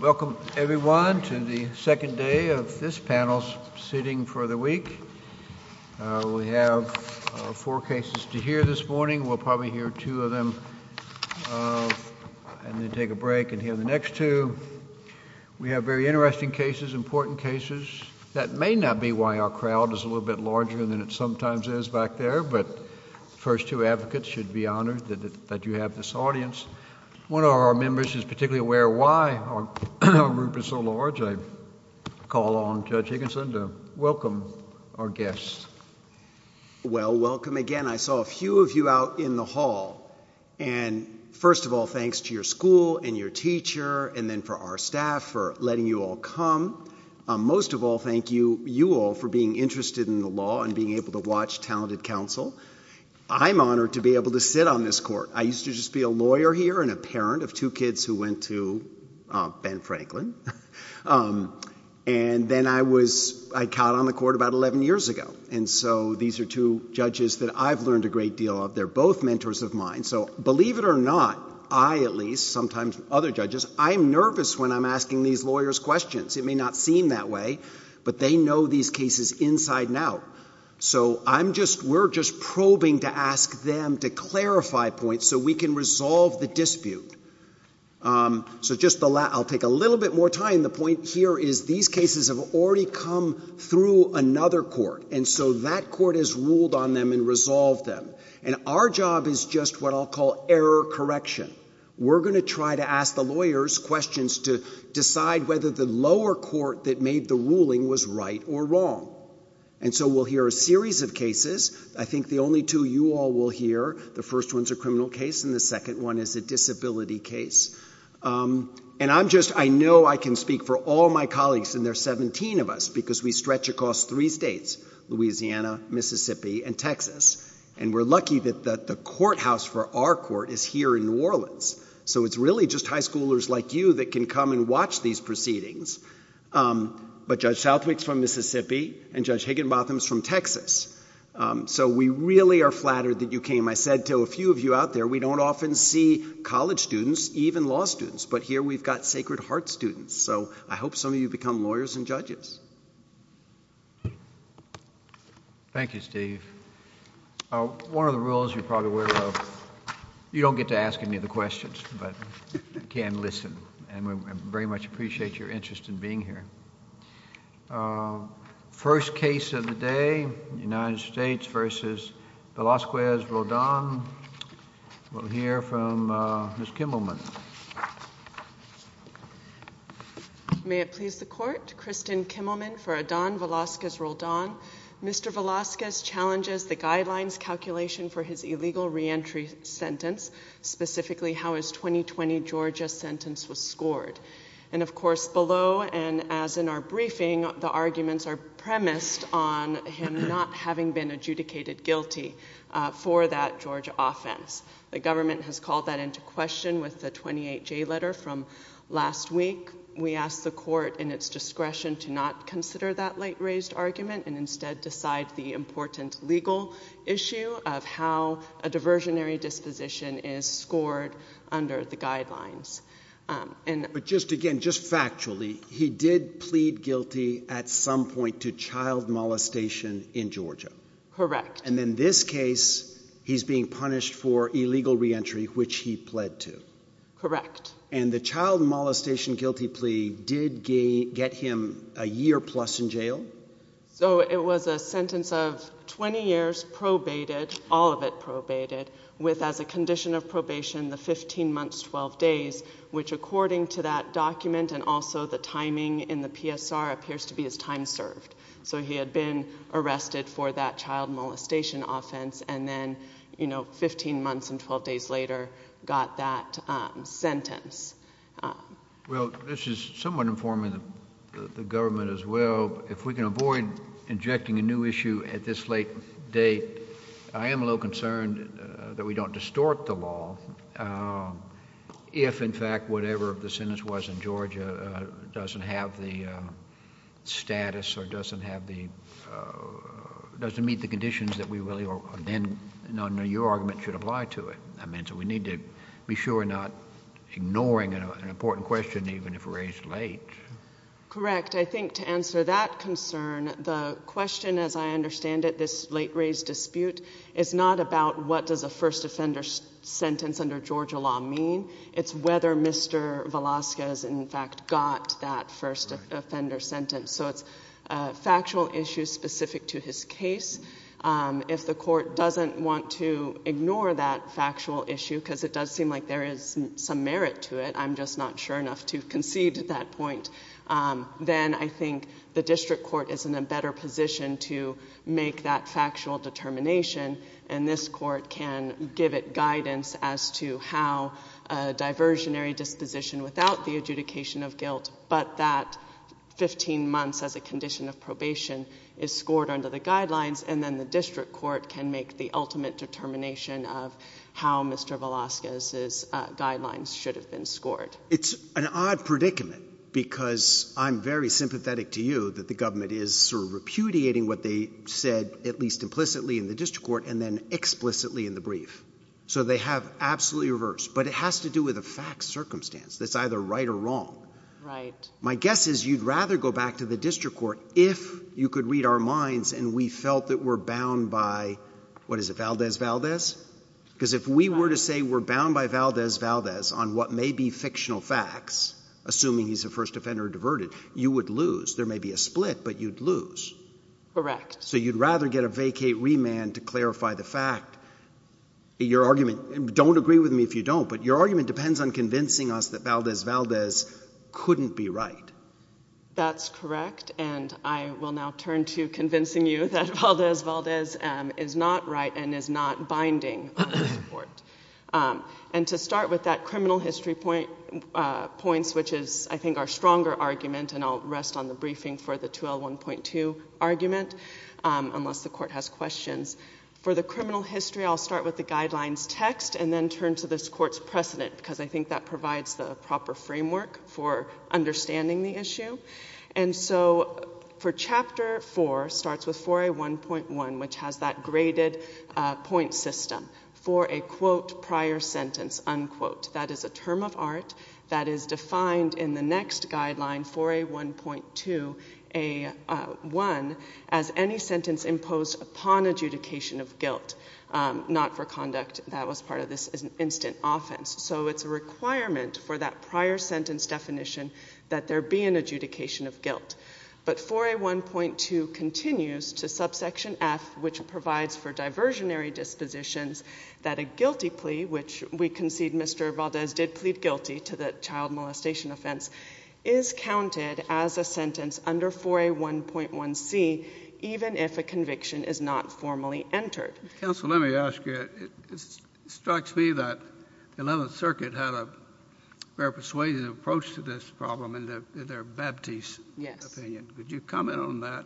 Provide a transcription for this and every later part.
Welcome, everyone, to the second day of this panel's sitting for the week. We have four cases to hear this morning. We'll probably hear two of them and then take a break and hear the next two. We have very interesting cases, important cases. That may not be why our crowd is a little bit larger than it sometimes is back there, but the first two advocates should be honored that you have this audience. One of our members is particularly aware why our group is so large. I call on Judge Higginson to welcome our guests. Judge Higginson Well, welcome again. I saw a few of you out in the hall, and first of all, thanks to your school and your teacher and then for our staff for letting you all come. Most of all, thank you, you all, for being interested in the law and being able to watch Talented Counsel. I'm honored to be able to sit on this court. I used to just be a lawyer here and a parent of two kids who went to Ben Franklin, and then I caught on the court about 11 years ago, and so these are two judges that I've learned a great deal of. They're both mentors of mine, so believe it or not, I at least, sometimes other judges, I'm nervous when I'm asking these lawyers questions. It may not seem that way, but they know these cases inside and out, so I'm just, we're just probing to ask them to clarify points so we can resolve the dispute. So just the last, I'll take a little bit more time. The point here is these cases have already come through another court, and so that court has ruled on them and resolved them, and our job is just what I'll call error correction. We're going to try to ask the lawyers questions to decide whether the lower court that made the ruling was right or wrong, and so we'll hear a series of cases. I think the only two you all will hear, the first one's a criminal case and the second one is a disability case, and I'm just, I know I can speak for all my colleagues, and there's 17 of us because we stretch across three states, Louisiana, Mississippi, and Texas, and we're lucky that the courthouse for our court is here in New Orleans, so it's really just high schoolers like you that can come and watch these proceedings, but Judge Southwick's from Mississippi and Judge Higginbotham's from Texas, so we really are flattered that you came. I said to a few of you out there, we don't often see college students, even law students, but here we've got Sacred Heart students, so I hope some of you become lawyers and judges. Thank you, Steve. One of the rules you're probably aware of, you don't get to ask any of the questions, but you can listen, and we very much appreciate your interest in being here. First case of the day, United States v. Velazquez-Roldan. We'll hear from Ms. Kimmelman. May it please the court, Kristen Kimmelman for Adan Velazquez-Roldan. Mr. Velazquez challenges the guidelines calculation for his illegal reentry sentence, specifically how his 2020 Georgia sentence was scored. And of course, below and as in our briefing, the arguments are premised on him not having been adjudicated guilty for that Georgia offense. The government has called that into question with the 28-J letter from last week. We ask the court in its discretion to not consider that late-raised argument and instead decide the important legal issue of how a diversionary disposition is scored under the guidelines. But just again, just factually, he did plead guilty at some point to child molestation in Georgia. Correct. And in this case, he's being punished for illegal reentry, which he pled to. Correct. And the child molestation guilty plea did get him a year plus in jail? So it was a sentence of 20 years probated, all of it probated, with as a condition of probation the 15 months, 12 days, which according to that document and also the timing in the PSR appears to be his time served. So he had been arrested for that child molestation offense and then, you know, 15 months and 12 days later got that sentence. Well, this is somewhat informing the government as well. If we can avoid injecting a new issue at this late date, I am a little concerned that we don't distort the law if, in fact, whatever the sentence was in Georgia doesn't have the status or doesn't have the, doesn't meet the conditions that we really, or then, I don't know, your argument should apply to it. I mean, so we should. Correct. I think to answer that concern, the question, as I understand it, this late raise dispute, is not about what does a first offender sentence under Georgia law mean. It's whether Mr. Velasquez, in fact, got that first offender sentence. So it's a factual issue specific to his case. If the court doesn't want to ignore that factual issue, because it does seem like there is some merit to it, I'm just not sure enough to concede to that point, then I think the district court is in a better position to make that factual determination, and this court can give it guidance as to how a diversionary disposition without the adjudication of guilt, but that 15 months as a condition of probation is scored under the guidelines, and then the district court can make the ultimate determination of how Mr. Velasquez's guidelines should have been scored. It's an odd predicament, because I'm very sympathetic to you that the government is sort of repudiating what they said, at least implicitly in the district court, and then explicitly in the brief. So they have absolutely reversed, but it has to do with a fact circumstance that's either right or wrong. Right. My guess is you'd rather go back to the district court if you could read our minds and we felt that we're bound by, what is it, Valdez-Valdez? Because if we were to say we're bound by Valdez-Valdez on what may be fictional facts, assuming he's a first offender or diverted, you would lose. There may be a split, but you'd lose. Correct. So you'd rather get a vacate remand to clarify the fact. Your argument, don't agree with me if you don't, but your argument depends on convincing us that Valdez-Valdez couldn't be right. That's correct, and I will now turn to convincing you that Valdez-Valdez is not right and is not binding on this court. And to start with that criminal history points, which is, I think, our stronger argument, and I'll rest on the briefing for the 2L1.2 argument, unless the court has questions. For the criminal history, I'll start with the guidelines text and then turn to this court's precedent, because I think that provides the proper framework for understanding the issue. And so for Chapter 4, starts with 4A1.1, which has that graded point system, for a quote prior sentence, unquote. That is a term of art that is defined in the next guideline, 4A1.2A1, as any sentence imposed upon adjudication of guilt, not for conduct that was part of this instant offense. So it's a requirement for that prior sentence definition that there be an adjudication of guilt. But 4A1.2 continues to subsection F, which provides for diversionary dispositions that a guilty plea, which we concede Mr. Valdez did plead guilty to the child molestation offense, is counted as a entered. Counsel, let me ask you, it strikes me that the 11th Circuit had a very persuasive approach to this problem in their Baptiste opinion. Could you comment on that?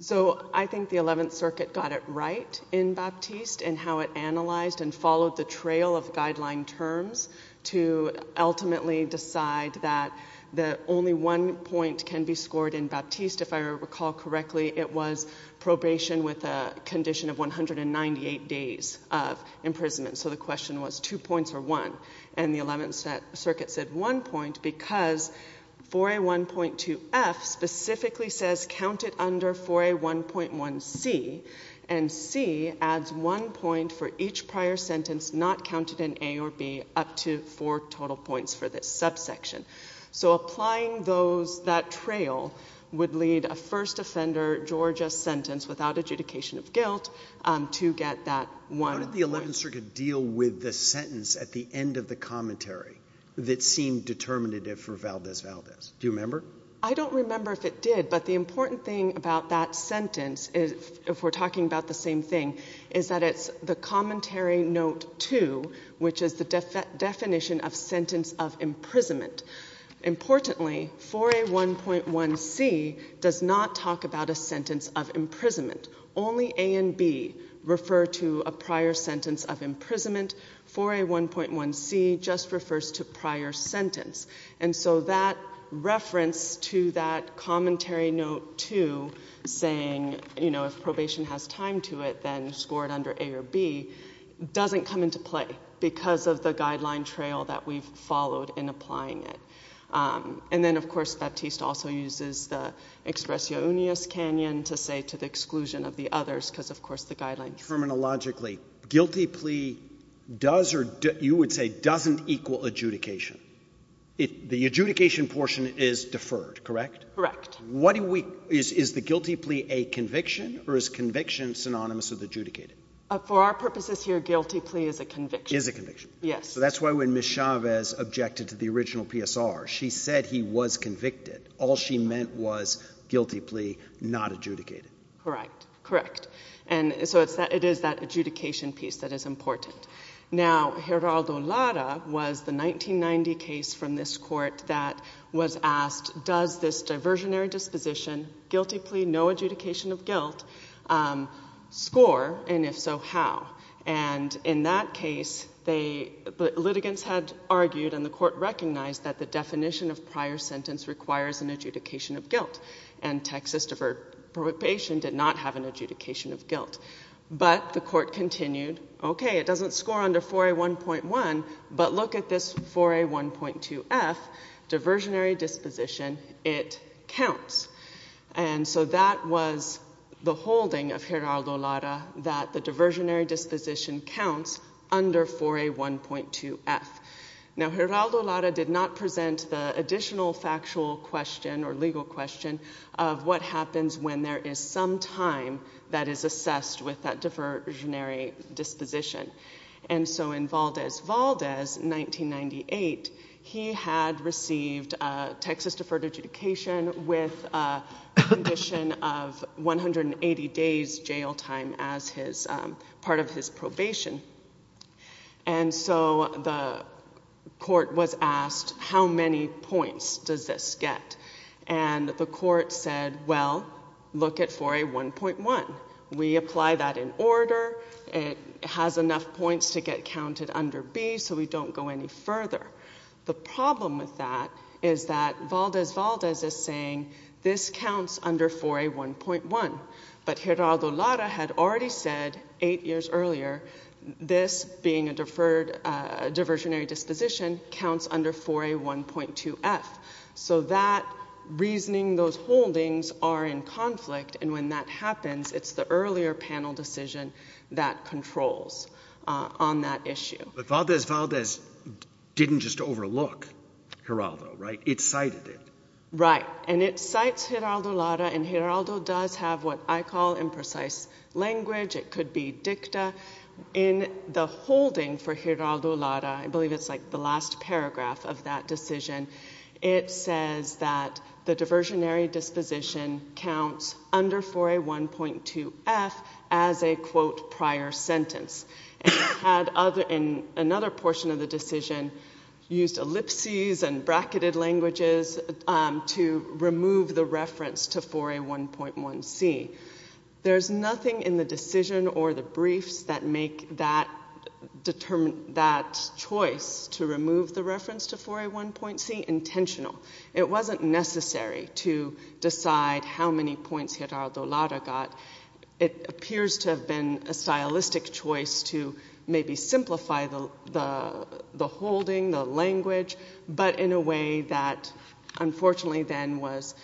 So I think the 11th Circuit got it right in Baptiste in how it analyzed and followed the trail of guideline terms to ultimately decide that the only one point can be scored in Baptiste, if I recall correctly, it was probation with a condition of 198 days of imprisonment. So the question was two points or one. And the 11th Circuit said one point because 4A1.2F specifically says count it under 4A1.1C, and C adds one point for each prior sentence not counted in A or B up to four total points for this subsection. So applying that trail would lead a first offender Georgia sentence without adjudication of guilt to get that one point. How did the 11th Circuit deal with the sentence at the end of the commentary that seemed determinative for Valdez-Valdez? Do you remember? I don't remember if it did, but the important thing about that sentence, if we're talking about the same thing, is that it's the commentary note two, which is the definition of sentence of imprisonment. Importantly, 4A1.1C does not talk about a sentence of imprisonment. Only A and B refer to a prior sentence of imprisonment. 4A1.1C just refers to prior sentence. And so that reference to that commentary note two saying, you know, if probation has time to it, then score it under A or B doesn't come into play because of the guideline trail that we've followed in applying it. And then, of course, Baptiste also uses the expressio unius canyon to say to the exclusion of the others because, of course, the guidelines say it. Terminologically, guilty plea does or you would say doesn't equal adjudication. The adjudication portion is deferred, correct? Correct. What do we, is the guilty plea a conviction or is conviction synonymous with adjudicated? For our purposes here, guilty plea is a conviction. Is a conviction. Yes. So that's why when Ms. Chavez objected to the original PSR, she said he was convicted. All she meant was guilty plea, not adjudicated. Correct. Correct. And so it is that adjudication piece that is important. Now, Geraldo Lara was the 1990 case from this court that was asked, does this diversionary disposition, guilty plea, no adjudication of guilt, score? And if so, how? And in that case, the litigants had argued and the court recognized that the definition of prior sentence requires an adjudication of guilt. And Texas deferred probation did not have an adjudication of guilt. But the court continued, okay, it doesn't score under 4A1.1, but look at this 4A1.2F, diversionary disposition, it counts. And so that was the holding of Geraldo Lara that the diversionary disposition counts under 4A1.2F. Now, Geraldo Lara did not present the additional factual question or legal question of what happens when there is some time that is assessed with that diversionary disposition. And so in Valdez, Valdez, 1998, he had received a diversionary Texas deferred adjudication with a condition of 180 days jail time as his, part of his probation. And so the court was asked, how many points does this get? And the court said, well, look at 4A1.1. We apply that in order. It has enough points to get counted under B, so we don't go any further. The problem with that is that Valdez, Valdez is saying this counts under 4A1.1. But Geraldo Lara had already said eight years earlier, this being a deferred, a diversionary disposition counts under 4A1.2F. So that reasoning, those holdings are in conflict. And when that happens, it's the earlier panel decision that controls on that issue. But Valdez, Valdez didn't just overlook Geraldo, right? It cited it. Right. And it cites Geraldo Lara, and Geraldo does have what I call imprecise language. It could be dicta. In the holding for Geraldo Lara, I believe it's like the last paragraph of that decision, it says that the diversionary disposition counts under 4A1.2F as a, quote, prior sentence. And it had other, in another portion of the decision, used ellipses and bracketed languages to remove the reference to 4A1.1C. There's nothing in the decision or the briefs that make that choice to remove the reference to 4A1.C intentional. It wasn't necessary to decide how many points Geraldo Lara got. It appears to have been a stylistic choice to maybe simplify the holding, the language, but in a way that unfortunately then was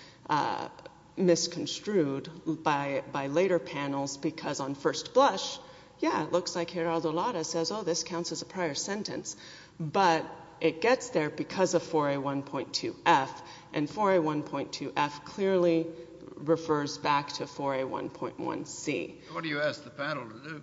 misconstrued by later panels because on first blush, yeah, it looks like Geraldo said 4A1.2F clearly refers back to 4A1.1C. What do you ask the panel to do?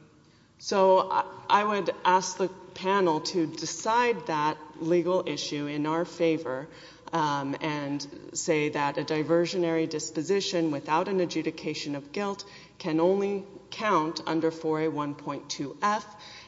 So I would ask the panel to decide that legal issue in our favor and say that a diversionary disposition without an adjudication of guilt can only count under 4A1.2F,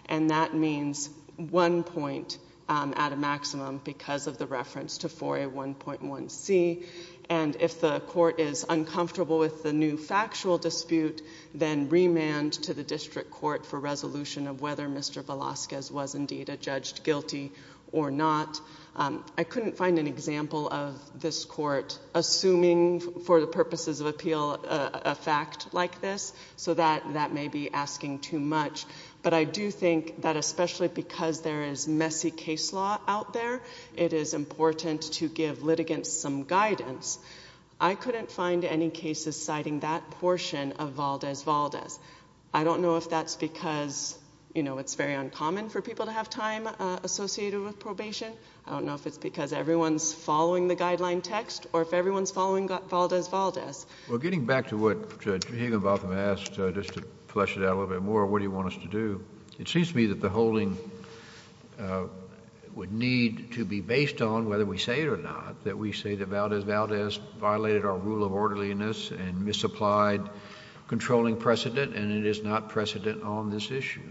and that means one point at a maximum because of the reference to 4A1.1C. And if the court is uncomfortable with the new factual dispute, then remand to the district court for resolution of whether Mr. Velasquez was indeed a judge guilty or not. I couldn't find an example of this court assuming for the purposes of appeal a fact like this, so that may be asking too much. But I do think that especially because there is messy case law out there, it is important to give litigants some guidance. I couldn't find any cases citing that portion of Valdez-Valdez. I don't know if that's because, you know, it's very uncommon for people to have time associated with probation. I don't know if it's because everyone's following the guideline text or if everyone's following Valdez-Valdez. Well, getting back to what Judge Higginbotham asked, just to flesh it out a little bit more, what do you want us to do? It seems to me that the holding would need to be based on whether we say it or not, that we say that Valdez-Valdez violated our rule of orderliness and misapplied controlling precedent and it is not precedent on this issue.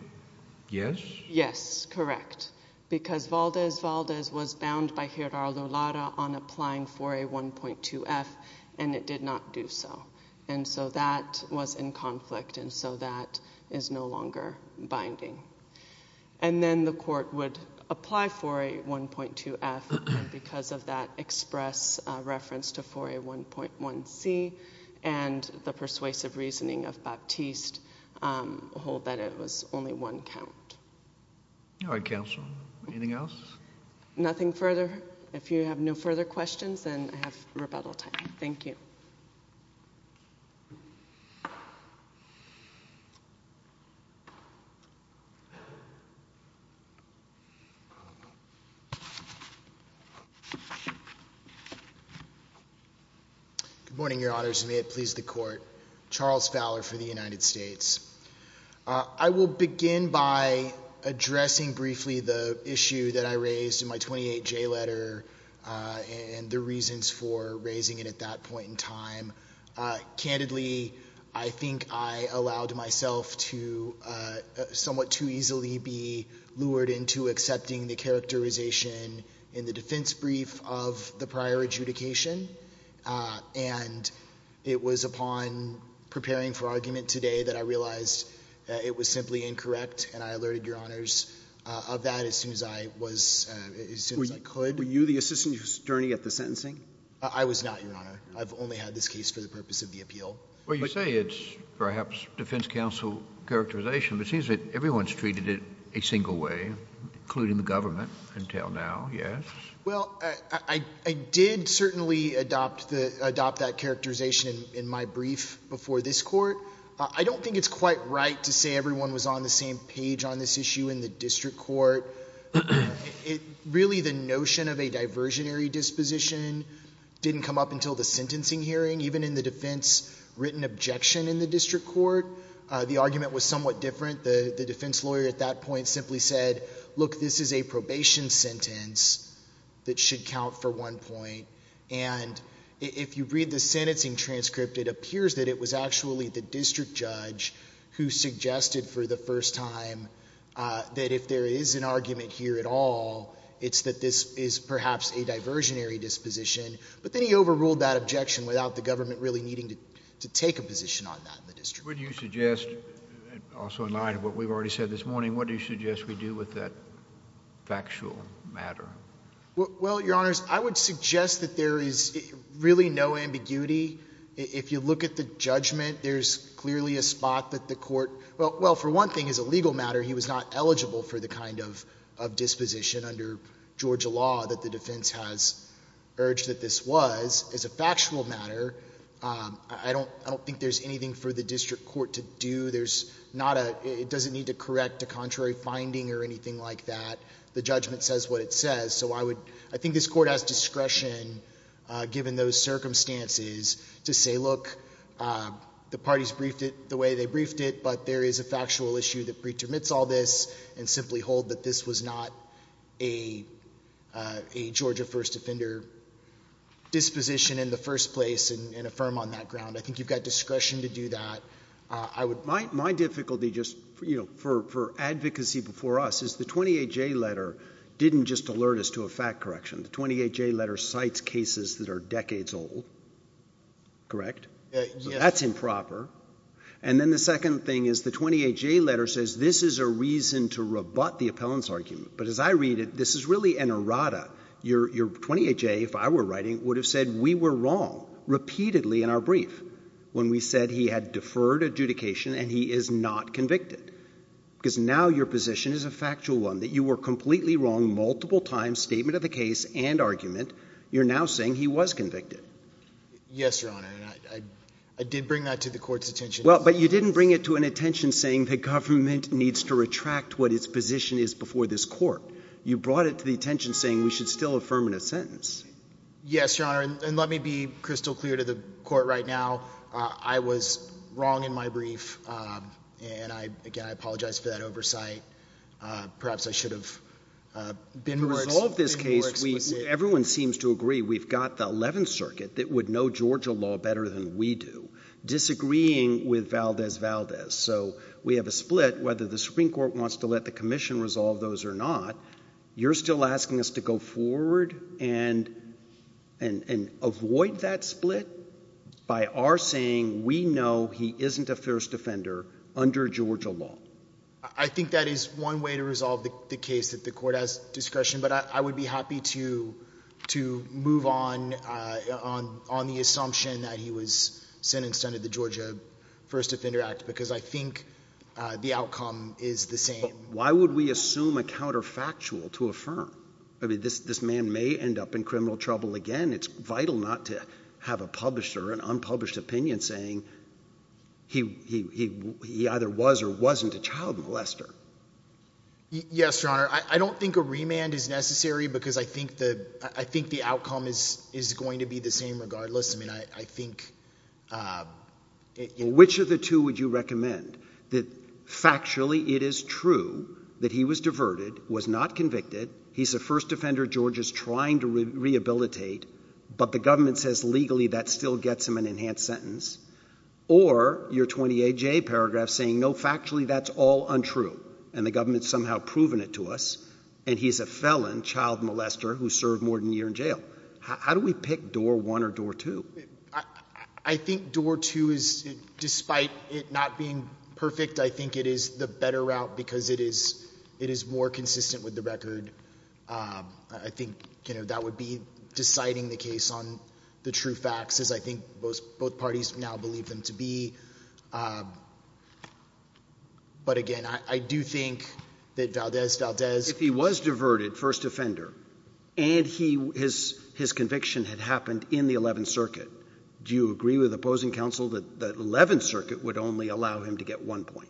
Yes? Yes, correct. Because Valdez-Valdez was bound by Gerardo Lara on applying 4A1.2F and it did not do so. And so that was in conflict and so that is no longer binding. And then the court would apply 4A1.2F because of that express reference to 4A1.1C and the persuasive reasoning of Baptiste hold that it was only one count. All right, counsel. Anything else? Nothing further? If you have no further questions, then I have rebuttal time. Thank you. Good morning, Your Honors, and may it please the Court. Charles Fowler for the United States. I will begin by addressing briefly the issue that I raised in my 28J letter and the reasons for raising it at that point in time. Candidly, I think I allowed myself to somewhat too easily be lured into accepting the characterization in the defense brief of the prior adjudication and it was upon preparing for argument today that I realized it was simply incorrect and I alerted Your Honors of that as soon as I was, as soon as I could. Were you the assistant attorney at the sentencing? I was not, Your Honor. I've only had this case for the purpose of the appeal. Well, you say it's perhaps defense counsel characterization, but it seems that everyone's treated it a single way, including the government, until now. Yes? Well, I did certainly adopt that characterization in my brief before this Court. I don't think it's quite right to say everyone was on the same page on this issue in the district court. Really the notion of a diversionary disposition didn't come up until the sentencing hearing. Even in the defense written objection in the district court, the argument was somewhat that should count for one point and if you read the sentencing transcript, it appears that it was actually the district judge who suggested for the first time that if there is an argument here at all, it's that this is perhaps a diversionary disposition, but then he overruled that objection without the government really needing to take a position on that in the district. Would you suggest, also in line with what we've already said this morning, what do you Well, Your Honors, I would suggest that there is really no ambiguity. If you look at the judgment, there's clearly a spot that the court, well, for one thing, as a legal matter, he was not eligible for the kind of disposition under Georgia law that the defense has urged that this was. As a factual matter, I don't think there's anything for the district court to do. There's not a, it doesn't need to correct a contrary finding or anything like that. The judgment says what it says. So I would, I think this court has discretion given those circumstances to say, look, the parties briefed it the way they briefed it, but there is a factual issue that pre-termits all this and simply hold that this was not a Georgia first offender disposition in the first place and affirm on that ground. I think you've got discretion to do that. I would My, my difficulty just, you know, for, for advocacy before us is the 28J letter didn't just alert us to a fact correction. The 28J letter cites cases that are decades old, correct? That's improper. And then the second thing is the 28J letter says this is a reason to rebut the appellant's argument. But as I read it, this is really an errata. Your, your 28J, if I were writing, would have said we were wrong repeatedly in our brief when we said he had deferred adjudication and he is not convicted because now your position is a factual one that you were completely wrong multiple times, statement of the case and argument. You're now saying he was convicted. Yes, Your Honor. And I, I, I did bring that to the court's attention. Well, but you didn't bring it to an attention saying that government needs to retract what its position is before this court. You brought it to the attention saying we should still affirm in a sentence. Yes, Your Honor. And let me be crystal clear to the court right now. I was wrong in my brief. Um, and I, again, I apologize for that uh, perhaps I should have, uh, been more explicit. To resolve this case, we, everyone seems to agree we've got the 11th circuit that would know Georgia law better than we do, disagreeing with Valdez-Valdez. So we have a split whether the Supreme Court wants to let the commission resolve those or not. You're still asking us to go forward and, and, and avoid that split by our saying we know he isn't a first offender under Georgia law. I think that is one way to resolve the case that the court has discretion, but I, I would be happy to, to move on, uh, on, on the assumption that he was sentenced under the Georgia First Offender Act because I think, uh, the outcome is the same. Why would we assume a counterfactual to affirm? I mean, this, this man may end up in criminal trouble again. It's vital not to have a publisher, an unpublished opinion saying he, he, he, he either was or wasn't a child molester. Yes, Your Honor. I, I don't think a remand is necessary because I think the, I think the outcome is, is going to be the same regardless. I mean, I, I think, uh, which of the two would you recommend? That factually it is true that he was diverted, was not convicted. He's a first offender Georgia's trying to rehabilitate, but the government says legally that still gets him an enhanced sentence or your 28 J paragraph saying no factually that's all untrue and the government somehow proven it to us and he's a felon child molester who served more than a year in jail. How do we pick door one or door two? I think door two is, despite it not being perfect, I think it is the better route because it is, it is more consistent with the record. Um, I think, you know, that would be deciding the case on the true facts as I think both parties now believe them to be. Um, but again, I do think that Valdez, Valdez, if he was diverted first offender and he, his, his conviction had happened in the 11th circuit, do you agree with opposing counsel that the 11th circuit would only allow him to get one point?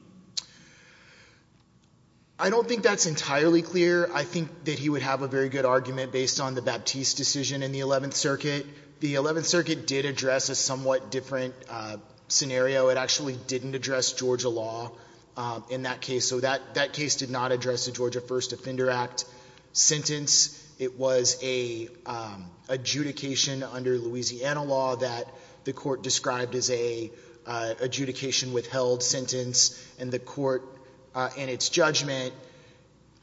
I don't think that's entirely clear. I think that he would have a very good argument based on the Baptiste decision in the 11th circuit. The 11th circuit did address a somewhat different scenario. It actually didn't address Georgia law in that case. So that that case did not address the Georgia first offender act sentence. It was a, um, adjudication under Louisiana law that the court described as a, uh, adjudication withheld sentence. And the court, uh, in its judgment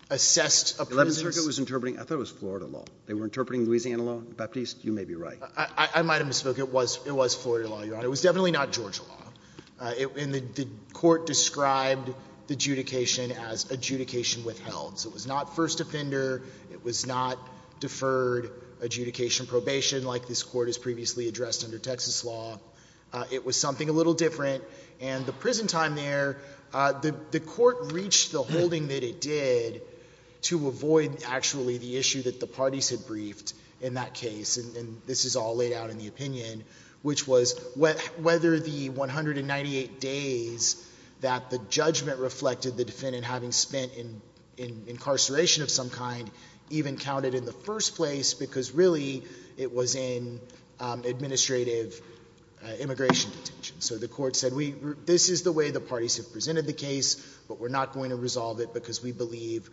assessed a prison circuit was interpreting. I thought it was Florida law. They were interpreting Louisiana law. Baptiste, you may be right. I might've misspoke. It was, it was Florida law. Your honor. It was definitely not Georgia law. Uh, it, and the court described the adjudication as adjudication withheld. So it was not first offender. It was not deferred adjudication probation like this court has previously addressed under Texas law. Uh, it was something a little different and the prison time there, uh, the, the court reached the holding that it did to avoid actually the issue that the parties had briefed in that case. And this is all laid out in the opinion, which was whether the 198 days that the judgment reflected the defendant having spent in, in incarceration of some kind even counted in the first place because really it was in, um, administrative, uh, immigration detention. So the court said, we, this is the way the parties have presented the case, but we're not going to resolve it because we believe,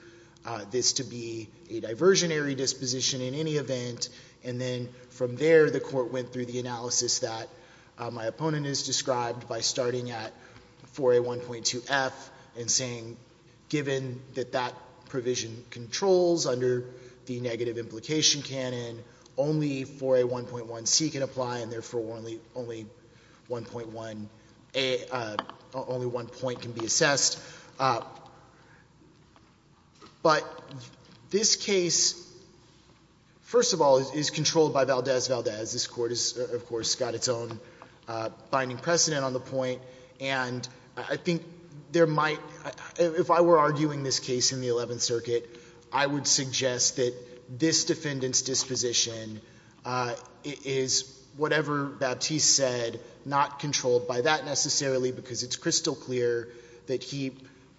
uh, this to be a diversionary disposition in any event. And then from there, the court went through the analysis that, uh, my opponent is described by starting at 4A1.2F and saying, given that that provision controls under the negative implication canon, only 4A1.1C can apply and therefore only, only 1.1A, uh, only one point can be assessed. Uh, but this case, first of all, is controlled by Valdez-Valdez. This court is, of course, got its own, uh, binding precedent on the point. And I think there might, if I were arguing this case in the Eleventh Circuit, I would suggest that this defendant's disposition, uh, is whatever Baptiste said, not controlled by that necessarily, because it's crystal clear that he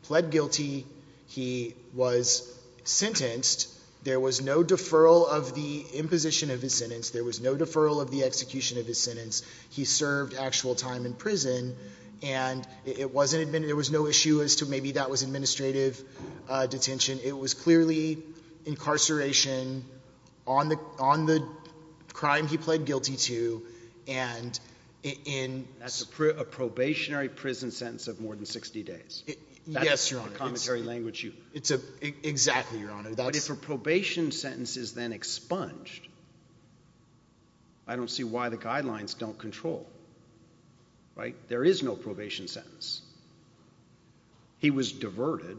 pled guilty. He was sentenced. There was no deferral of the imposition of his sentence. There was no deferral of the execution of his sentence. He served actual time in prison and it wasn't admin, there was no issue as to maybe that was administrative, uh, detention. It was clearly incarceration on the, on the crime he pled guilty to and in... That's a pro, a probationary prison sentence of more than 60 days. Yes, Your Honor. That's the commentary language you... It's a, exactly, Your Honor. But if a probation sentence is then expunged, I don't see why the guidelines don't control, right? There is no probation sentence. He was diverted.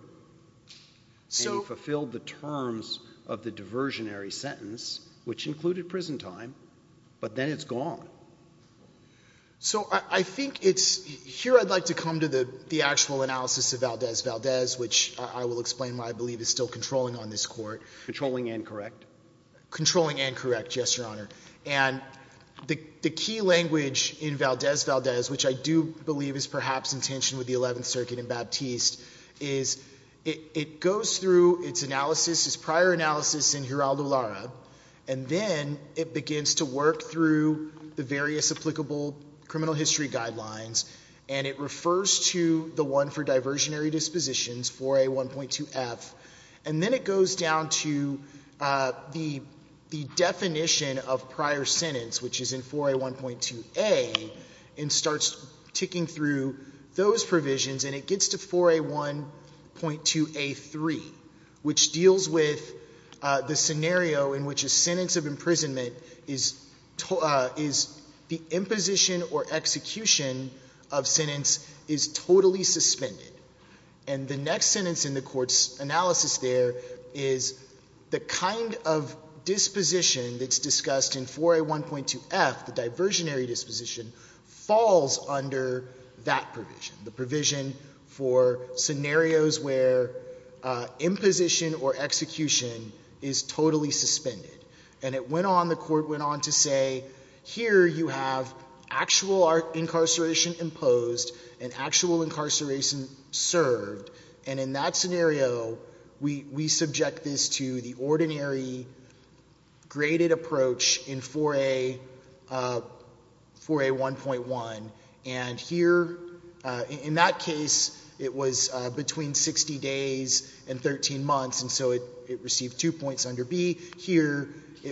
So... And he fulfilled the terms of the diversionary sentence, which included prison time, but then it's gone. So I, I think it's, here I'd like to come to the, the actual analysis of Valdez-Valdez, which I, I will explain why I believe is still controlling on this court. Controlling and correct? Controlling and correct, yes, Your Honor. And the, the key language in Valdez-Valdez, which I do believe is perhaps in tension with the 11th Circuit and Baptiste, is it, it goes through its analysis, its prior analysis in Geraldo Lara, and then it begins to work through the various applicable criminal history guidelines, and it refers to the one for diversionary dispositions, 4A1.2F, and then it goes down to the, the definition of prior sentence, which is in 4A1.2A, and starts ticking through those provisions, and it gets to 4A1.2A3, which deals with the scenario in which a sentence of imprisonment is, is the imposition or execution of sentence is totally suspended. And the next sentence in the court's analysis there is the kind of disposition that's discussed in 4A1.2F, the diversionary disposition, falls under that provision, the provision for scenarios where imposition or execution is totally suspended. And it went on, the court went on to say, here you have actual incarceration imposed and actual incarceration served, and in that scenario, we, we subject this to the ordinary graded approach in 4A, 4A1.1, and here, in that case, it was between 60 days and 13 months, and so it, it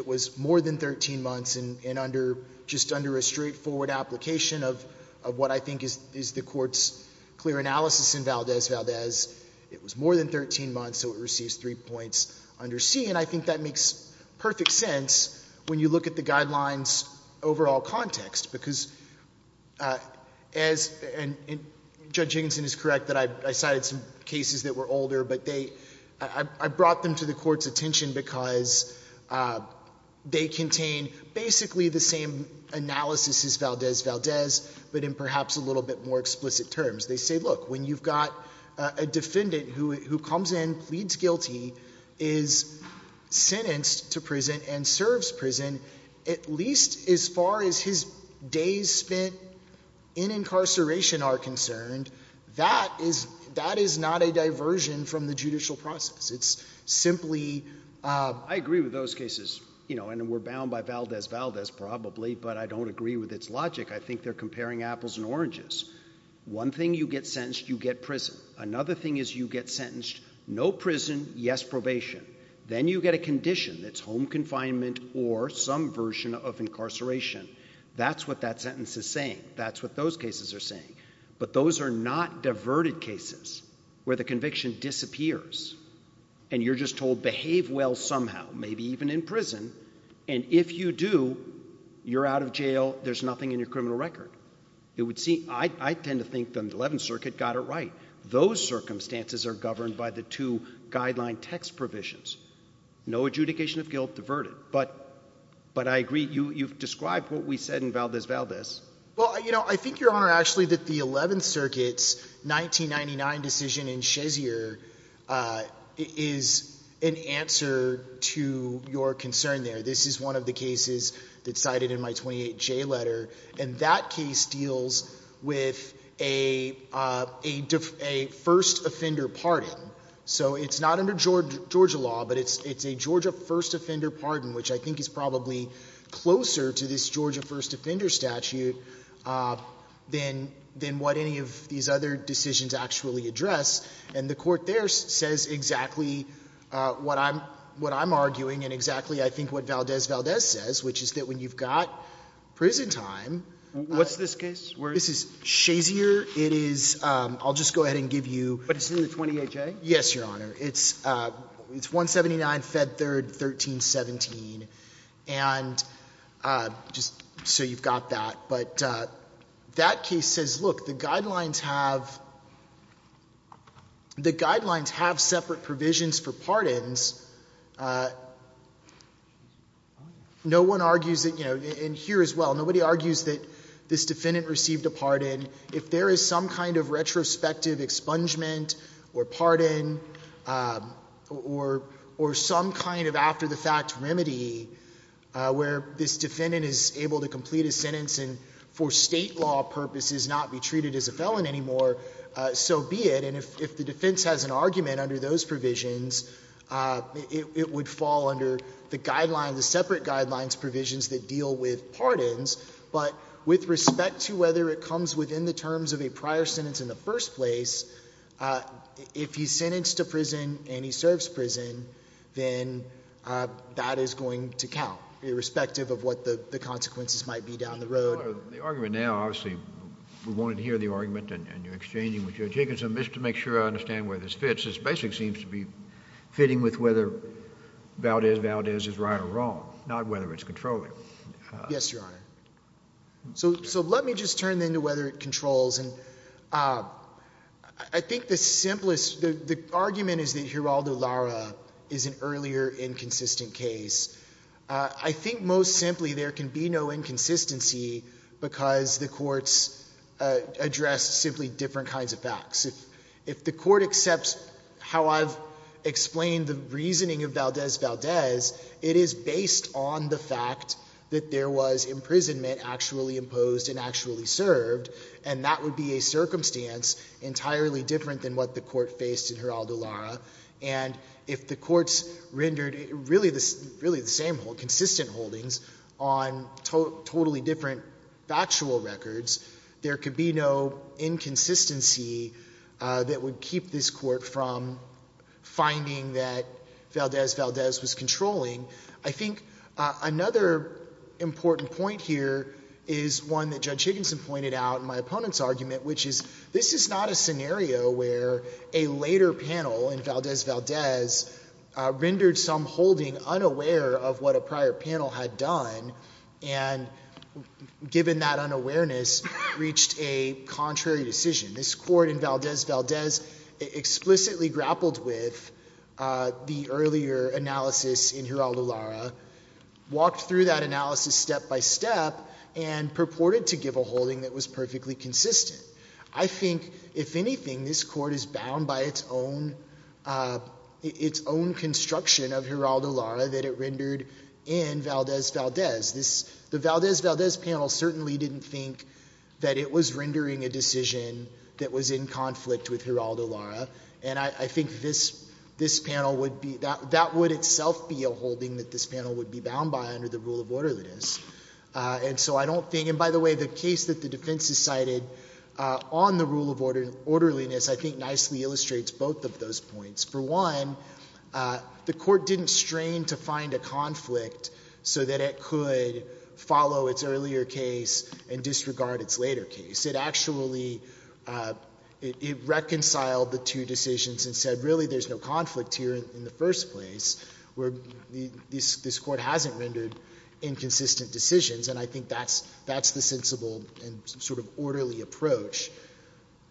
was more than 13 months, and under, just under a straightforward application of, of what I think is, is the court's clear analysis in Valdez-Valdez, it was more than 13 months, so it receives three points under C, and I think that makes perfect sense when you look at the guidelines overall context, because as, and, and Judge Higginson is correct that I, I cited some cases that were older, but they, I, I brought them to the court's attention because they contain basically the same analysis as Valdez-Valdez, but in perhaps a little bit more explicit terms. They say, look, when you've got a defendant who, who comes in, pleads guilty, is sentenced to prison, and serves prison, at least as far as his days spent in incarceration are concerned, that is, that is not a diversion from the judicial process. It's simply, uh... I agree with those cases, you know, and we're bound by Valdez-Valdez probably, but I don't agree with its logic. I think they're comparing apples and oranges. One thing, you get sentenced, you get prison. Another thing is, you get sentenced, no prison, yes probation. Then you get a condition that's home confinement or some version of incarceration. That's what that sentence is saying. That's what those cases are saying. But those are not diverted cases where the conviction disappears, and you're just told behave well somehow, maybe even in prison, and if you do, you're out of jail, there's nothing in your criminal record. It would seem, I, I tend to think the Eleventh Circuit got it right. Those circumstances are governed by the two guideline text provisions. No adjudication of guilt, diverted. But, but I agree, you, you've described what we said in Valdez-Valdez. Well, you know, I think, Your Honor, actually, that the Eleventh Circuit's 1999 decision in Schezier, uh, is an answer to your concern there. This is one of the cases that's cited in my 28J letter, and that case deals with a, uh, a, a first offender pardon. So it's not under Georgia, Georgia law, but it's, it's a Georgia first offender pardon, which I think is probably closer to this Georgia first offender statute, uh, than, than what any of these other decisions actually address. And the court there says exactly, uh, what I'm, what I'm arguing, and exactly, I think, what Valdez-Valdez says, which is that when you've got prison time, uh, What's this case? This is Schezier. It is, um, I'll just go ahead and give you, But it's in the 28J? Yes, Your Honor. It's, uh, it's 179, Fed 3rd, 1317. And, uh, just so you've got that. But, uh, that case says, look, the guidelines have, the guidelines have separate provisions for pardons. Uh, no one argues that, you know, and here as well, nobody argues that this defendant received a pardon. If there is some kind of retrospective expungement or pardon, um, or, or some kind of after the fact remedy, uh, where this defendant is able to complete a sentence and for state law purposes not be treated as a felon anymore, uh, so be it. And if, if the defense has an argument under those provisions, uh, it, it would fall under the guideline, the separate guidelines provisions that deal with pardons. But with respect to whether it comes within the terms of a prior sentence in the first place, uh, if he's sentenced to prison and he serves prison, then, uh, that is going to count irrespective of what the, the consequences might be down the road. The argument now, obviously we wanted to hear the argument and you're exchanging with Joe Jacobson just to make sure I understand where this fits. This basic seems to be fitting with whether Valdez, Valdez is right or wrong, not whether it's controlling. Yes, Your Honor. So, so let me just turn into whether it controls. And, uh, I think the simplest, the, the argument is that Geraldo Lara is an earlier inconsistent case. Uh, I think most simply there can be no inconsistency because the courts, uh, address simply different kinds of facts. If, if the court accepts how I've explained the reasoning of Valdez, Valdez, it is based on the fact that there was imprisonment actually imposed and actually served. And that would be a circumstance entirely different than what the court faced in Geraldo Lara. And if the courts rendered really the, really the same hold consistent holdings on totally different factual records, there could be no inconsistency, uh, that would keep this court from finding that Valdez, Valdez was controlling. I think, uh, another important point here is one that Judge Higginson pointed out in my opponent's argument, which is this is not a scenario where a later panel in Valdez, Valdez, uh, rendered some holding unaware of what a prior panel had done. And given that unawareness reached a contrary decision, this court in Valdez, Valdez explicitly grappled with, uh, the earlier analysis in Geraldo Lara, walked through that analysis step by step and purported to give a holding that was perfectly consistent. I think if anything, this court is bound by its own, uh, its own construction of Geraldo Lara that it rendered in Valdez, Valdez. This, the Valdez, Valdez panel certainly didn't think that it was rendering a decision that was in conflict with Geraldo Lara. And I, I think this, this panel would be, that, that would itself be a holding that this panel would be bound by under the rule of orderliness. Uh, and so I don't think, and by the way, the case that the defense is cited, uh, on the rule of order, orderliness, I think nicely illustrates both of those points. For one, uh, the court didn't strain to find a conflict so that it could follow its earlier case and disregard its later case. It actually, uh, it, it reconciled the two decisions and said, really, there's no conflict here in the first place, where the, this, this court hasn't rendered inconsistent decisions. And I think that's, that's the sensible and sort of orderly approach.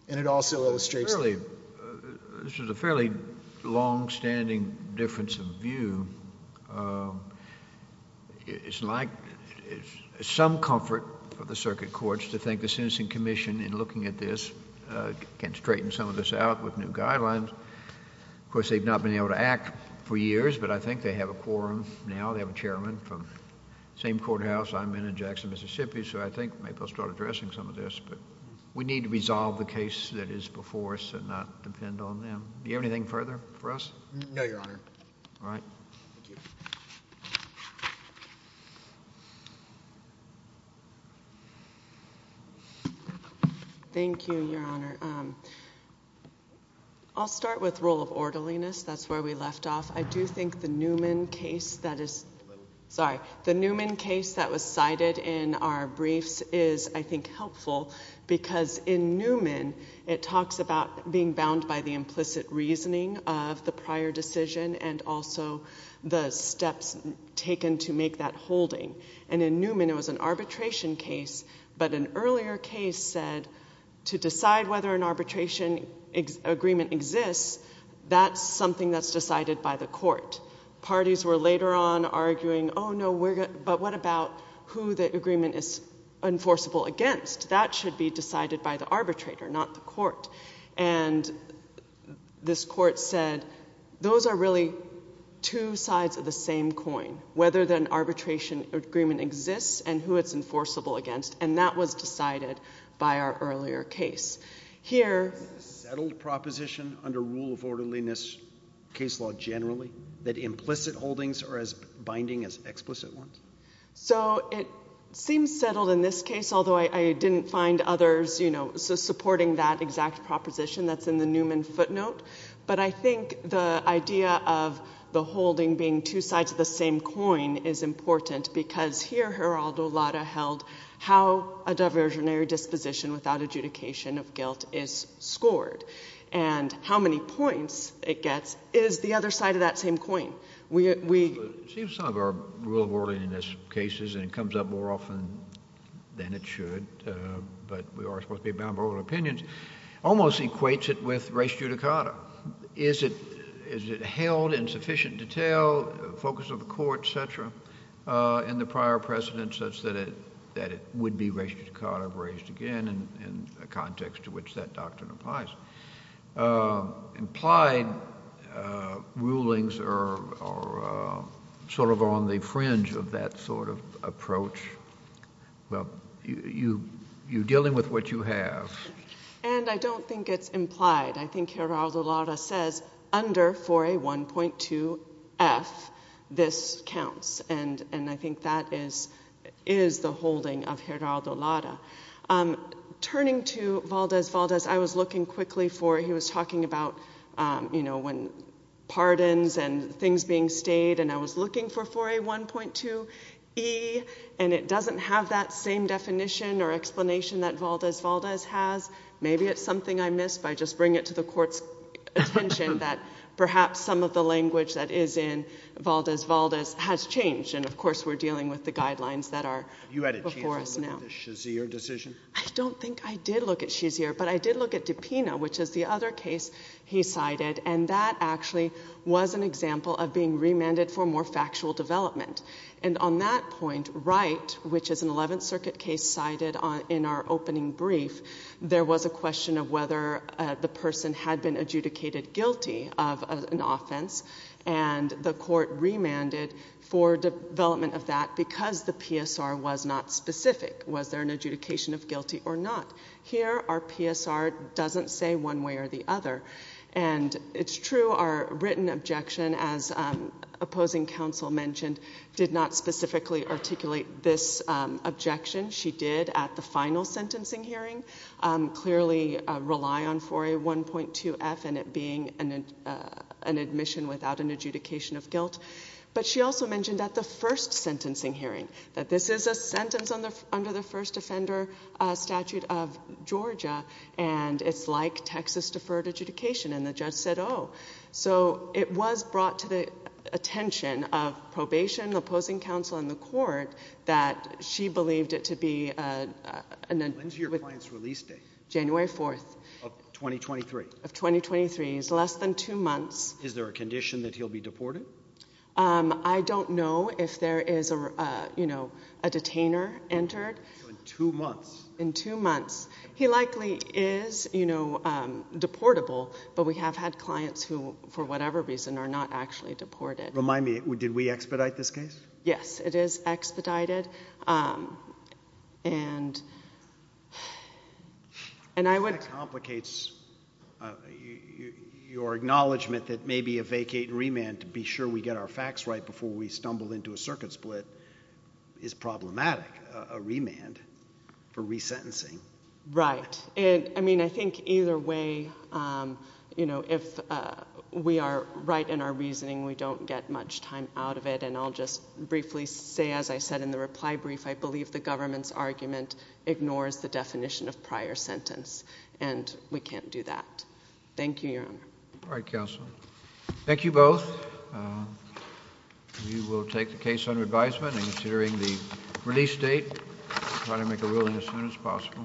And it also illustrates that, uh, this is a fairly some comfort for the circuit courts to think the sentencing commission in looking at this, uh, can straighten some of this out with new guidelines. Of course, they've not been able to act for years, but I think they have a quorum now. They have a chairman from the same courthouse I'm in in Jackson, Mississippi. So I think maybe I'll start addressing some of this, but we need to resolve the case that is before us and not depend on them. Do you have anything further for us? No, Your Honor. All right. Thank you. Thank you, Your Honor. Um, I'll start with rule of orderliness. That's where we left off. I do think the Newman case that is, sorry, the Newman case that was cited in our briefs is, I think, helpful because in Newman, it talks about being bound by the implicit reasoning of the prior decision and also the steps taken to make that holding. And in Newman, it was an arbitration case, but an earlier case said to decide whether an arbitration agreement exists, that's something that's decided by the court. Parties were later on arguing, oh no, we're going, but what about who the agreement is enforceable against? That should be decided by the arbitrator, not the court. And this court said, those are really two sides of the same coin, whether an arbitration agreement exists and who it's enforceable against, and that was decided by our earlier case. Here... Is this a settled proposition under rule of orderliness case law generally, that implicit holdings are as binding as explicit ones? So it seems settled in this case, although I didn't find others, you know, supporting that exact proposition that's in the Newman footnote. But I think the idea of the holding being two sides of the same coin is important because here, Geraldo Lara held how a diversionary disposition without adjudication of guilt is scored. And how many points it gets is the other side of that same coin. We, it seems some of our rule of orderliness cases, and it comes up more often than it should, but we are supposed to be bound by our own opinions, almost equates it with res judicata. Is it, is it held in sufficient detail, focus of the court, et cetera, in the prior precedent such that it, that it would be res judicata raised again in a context to which that doctrine applies? Implied rulings are sort of on the fringe of that sort of approach. Well, you're dealing with what you have. And I don't think it's implied. I think Geraldo Lara says under 4A1.2F, this counts. And I was looking quickly for, he was talking about, you know, when pardons and things being stayed, and I was looking for 4A1.2E, and it doesn't have that same definition or explanation that Valdez-Valdez has. Maybe it's something I missed by just bringing it to the court's attention that perhaps some of the language that is in Valdez-Valdez has changed. And of course, we're dealing with the guidelines that are before us now. Have you had a chance to look at the Shazier decision? I don't think I did look at Shazier, but I did look at DiPino, which is the other case he cited. And that actually was an example of being remanded for more factual development. And on that point, Wright, which is an Eleventh Circuit case cited in our opening brief, there was a question of whether the person had been adjudicated guilty of an offense, and the court remanded for development of that because the PSR was not specific. Was there an adjudication of guilty or not? Here, our PSR doesn't say one way or the other. And it's true our written objection, as opposing counsel mentioned, did not specifically articulate this objection. She did at the final sentencing hearing clearly rely on 4A1.2F and it being an admission without an adjudication of guilt. But she also mentioned at the first sentencing hearing that this is a sentence under the first offender statute of Georgia, and it's like Texas deferred adjudication. And the judge said, oh. So it was brought to the attention of probation, opposing counsel, and the court that she believed it to be an— When's your client's release date? January 4th. Of 2023? Of 2023. It's less than two months. Is there a condition that he'll be deported? I don't know if there is a, you know, a detainer entered. So in two months? In two months. He likely is, you know, deportable, but we have had clients who, for whatever reason, are not actually deported. Remind me, did we expedite this case? Yes, it is expedited. And I would— Your acknowledgment that maybe a vacate and remand to be sure we get our facts right before we stumble into a circuit split is problematic. A remand for resentencing. Right. I mean, I think either way, you know, if we are right in our reasoning, we don't get much time out of it. And I'll just briefly say, as I said in the reply brief, I believe the government's argument ignores the definition of prior sentence. And we can't do that. Thank you, Your Honor. All right, counsel. Thank you both. We will take the case under advisement and considering the release date. Try to make a ruling as soon as possible.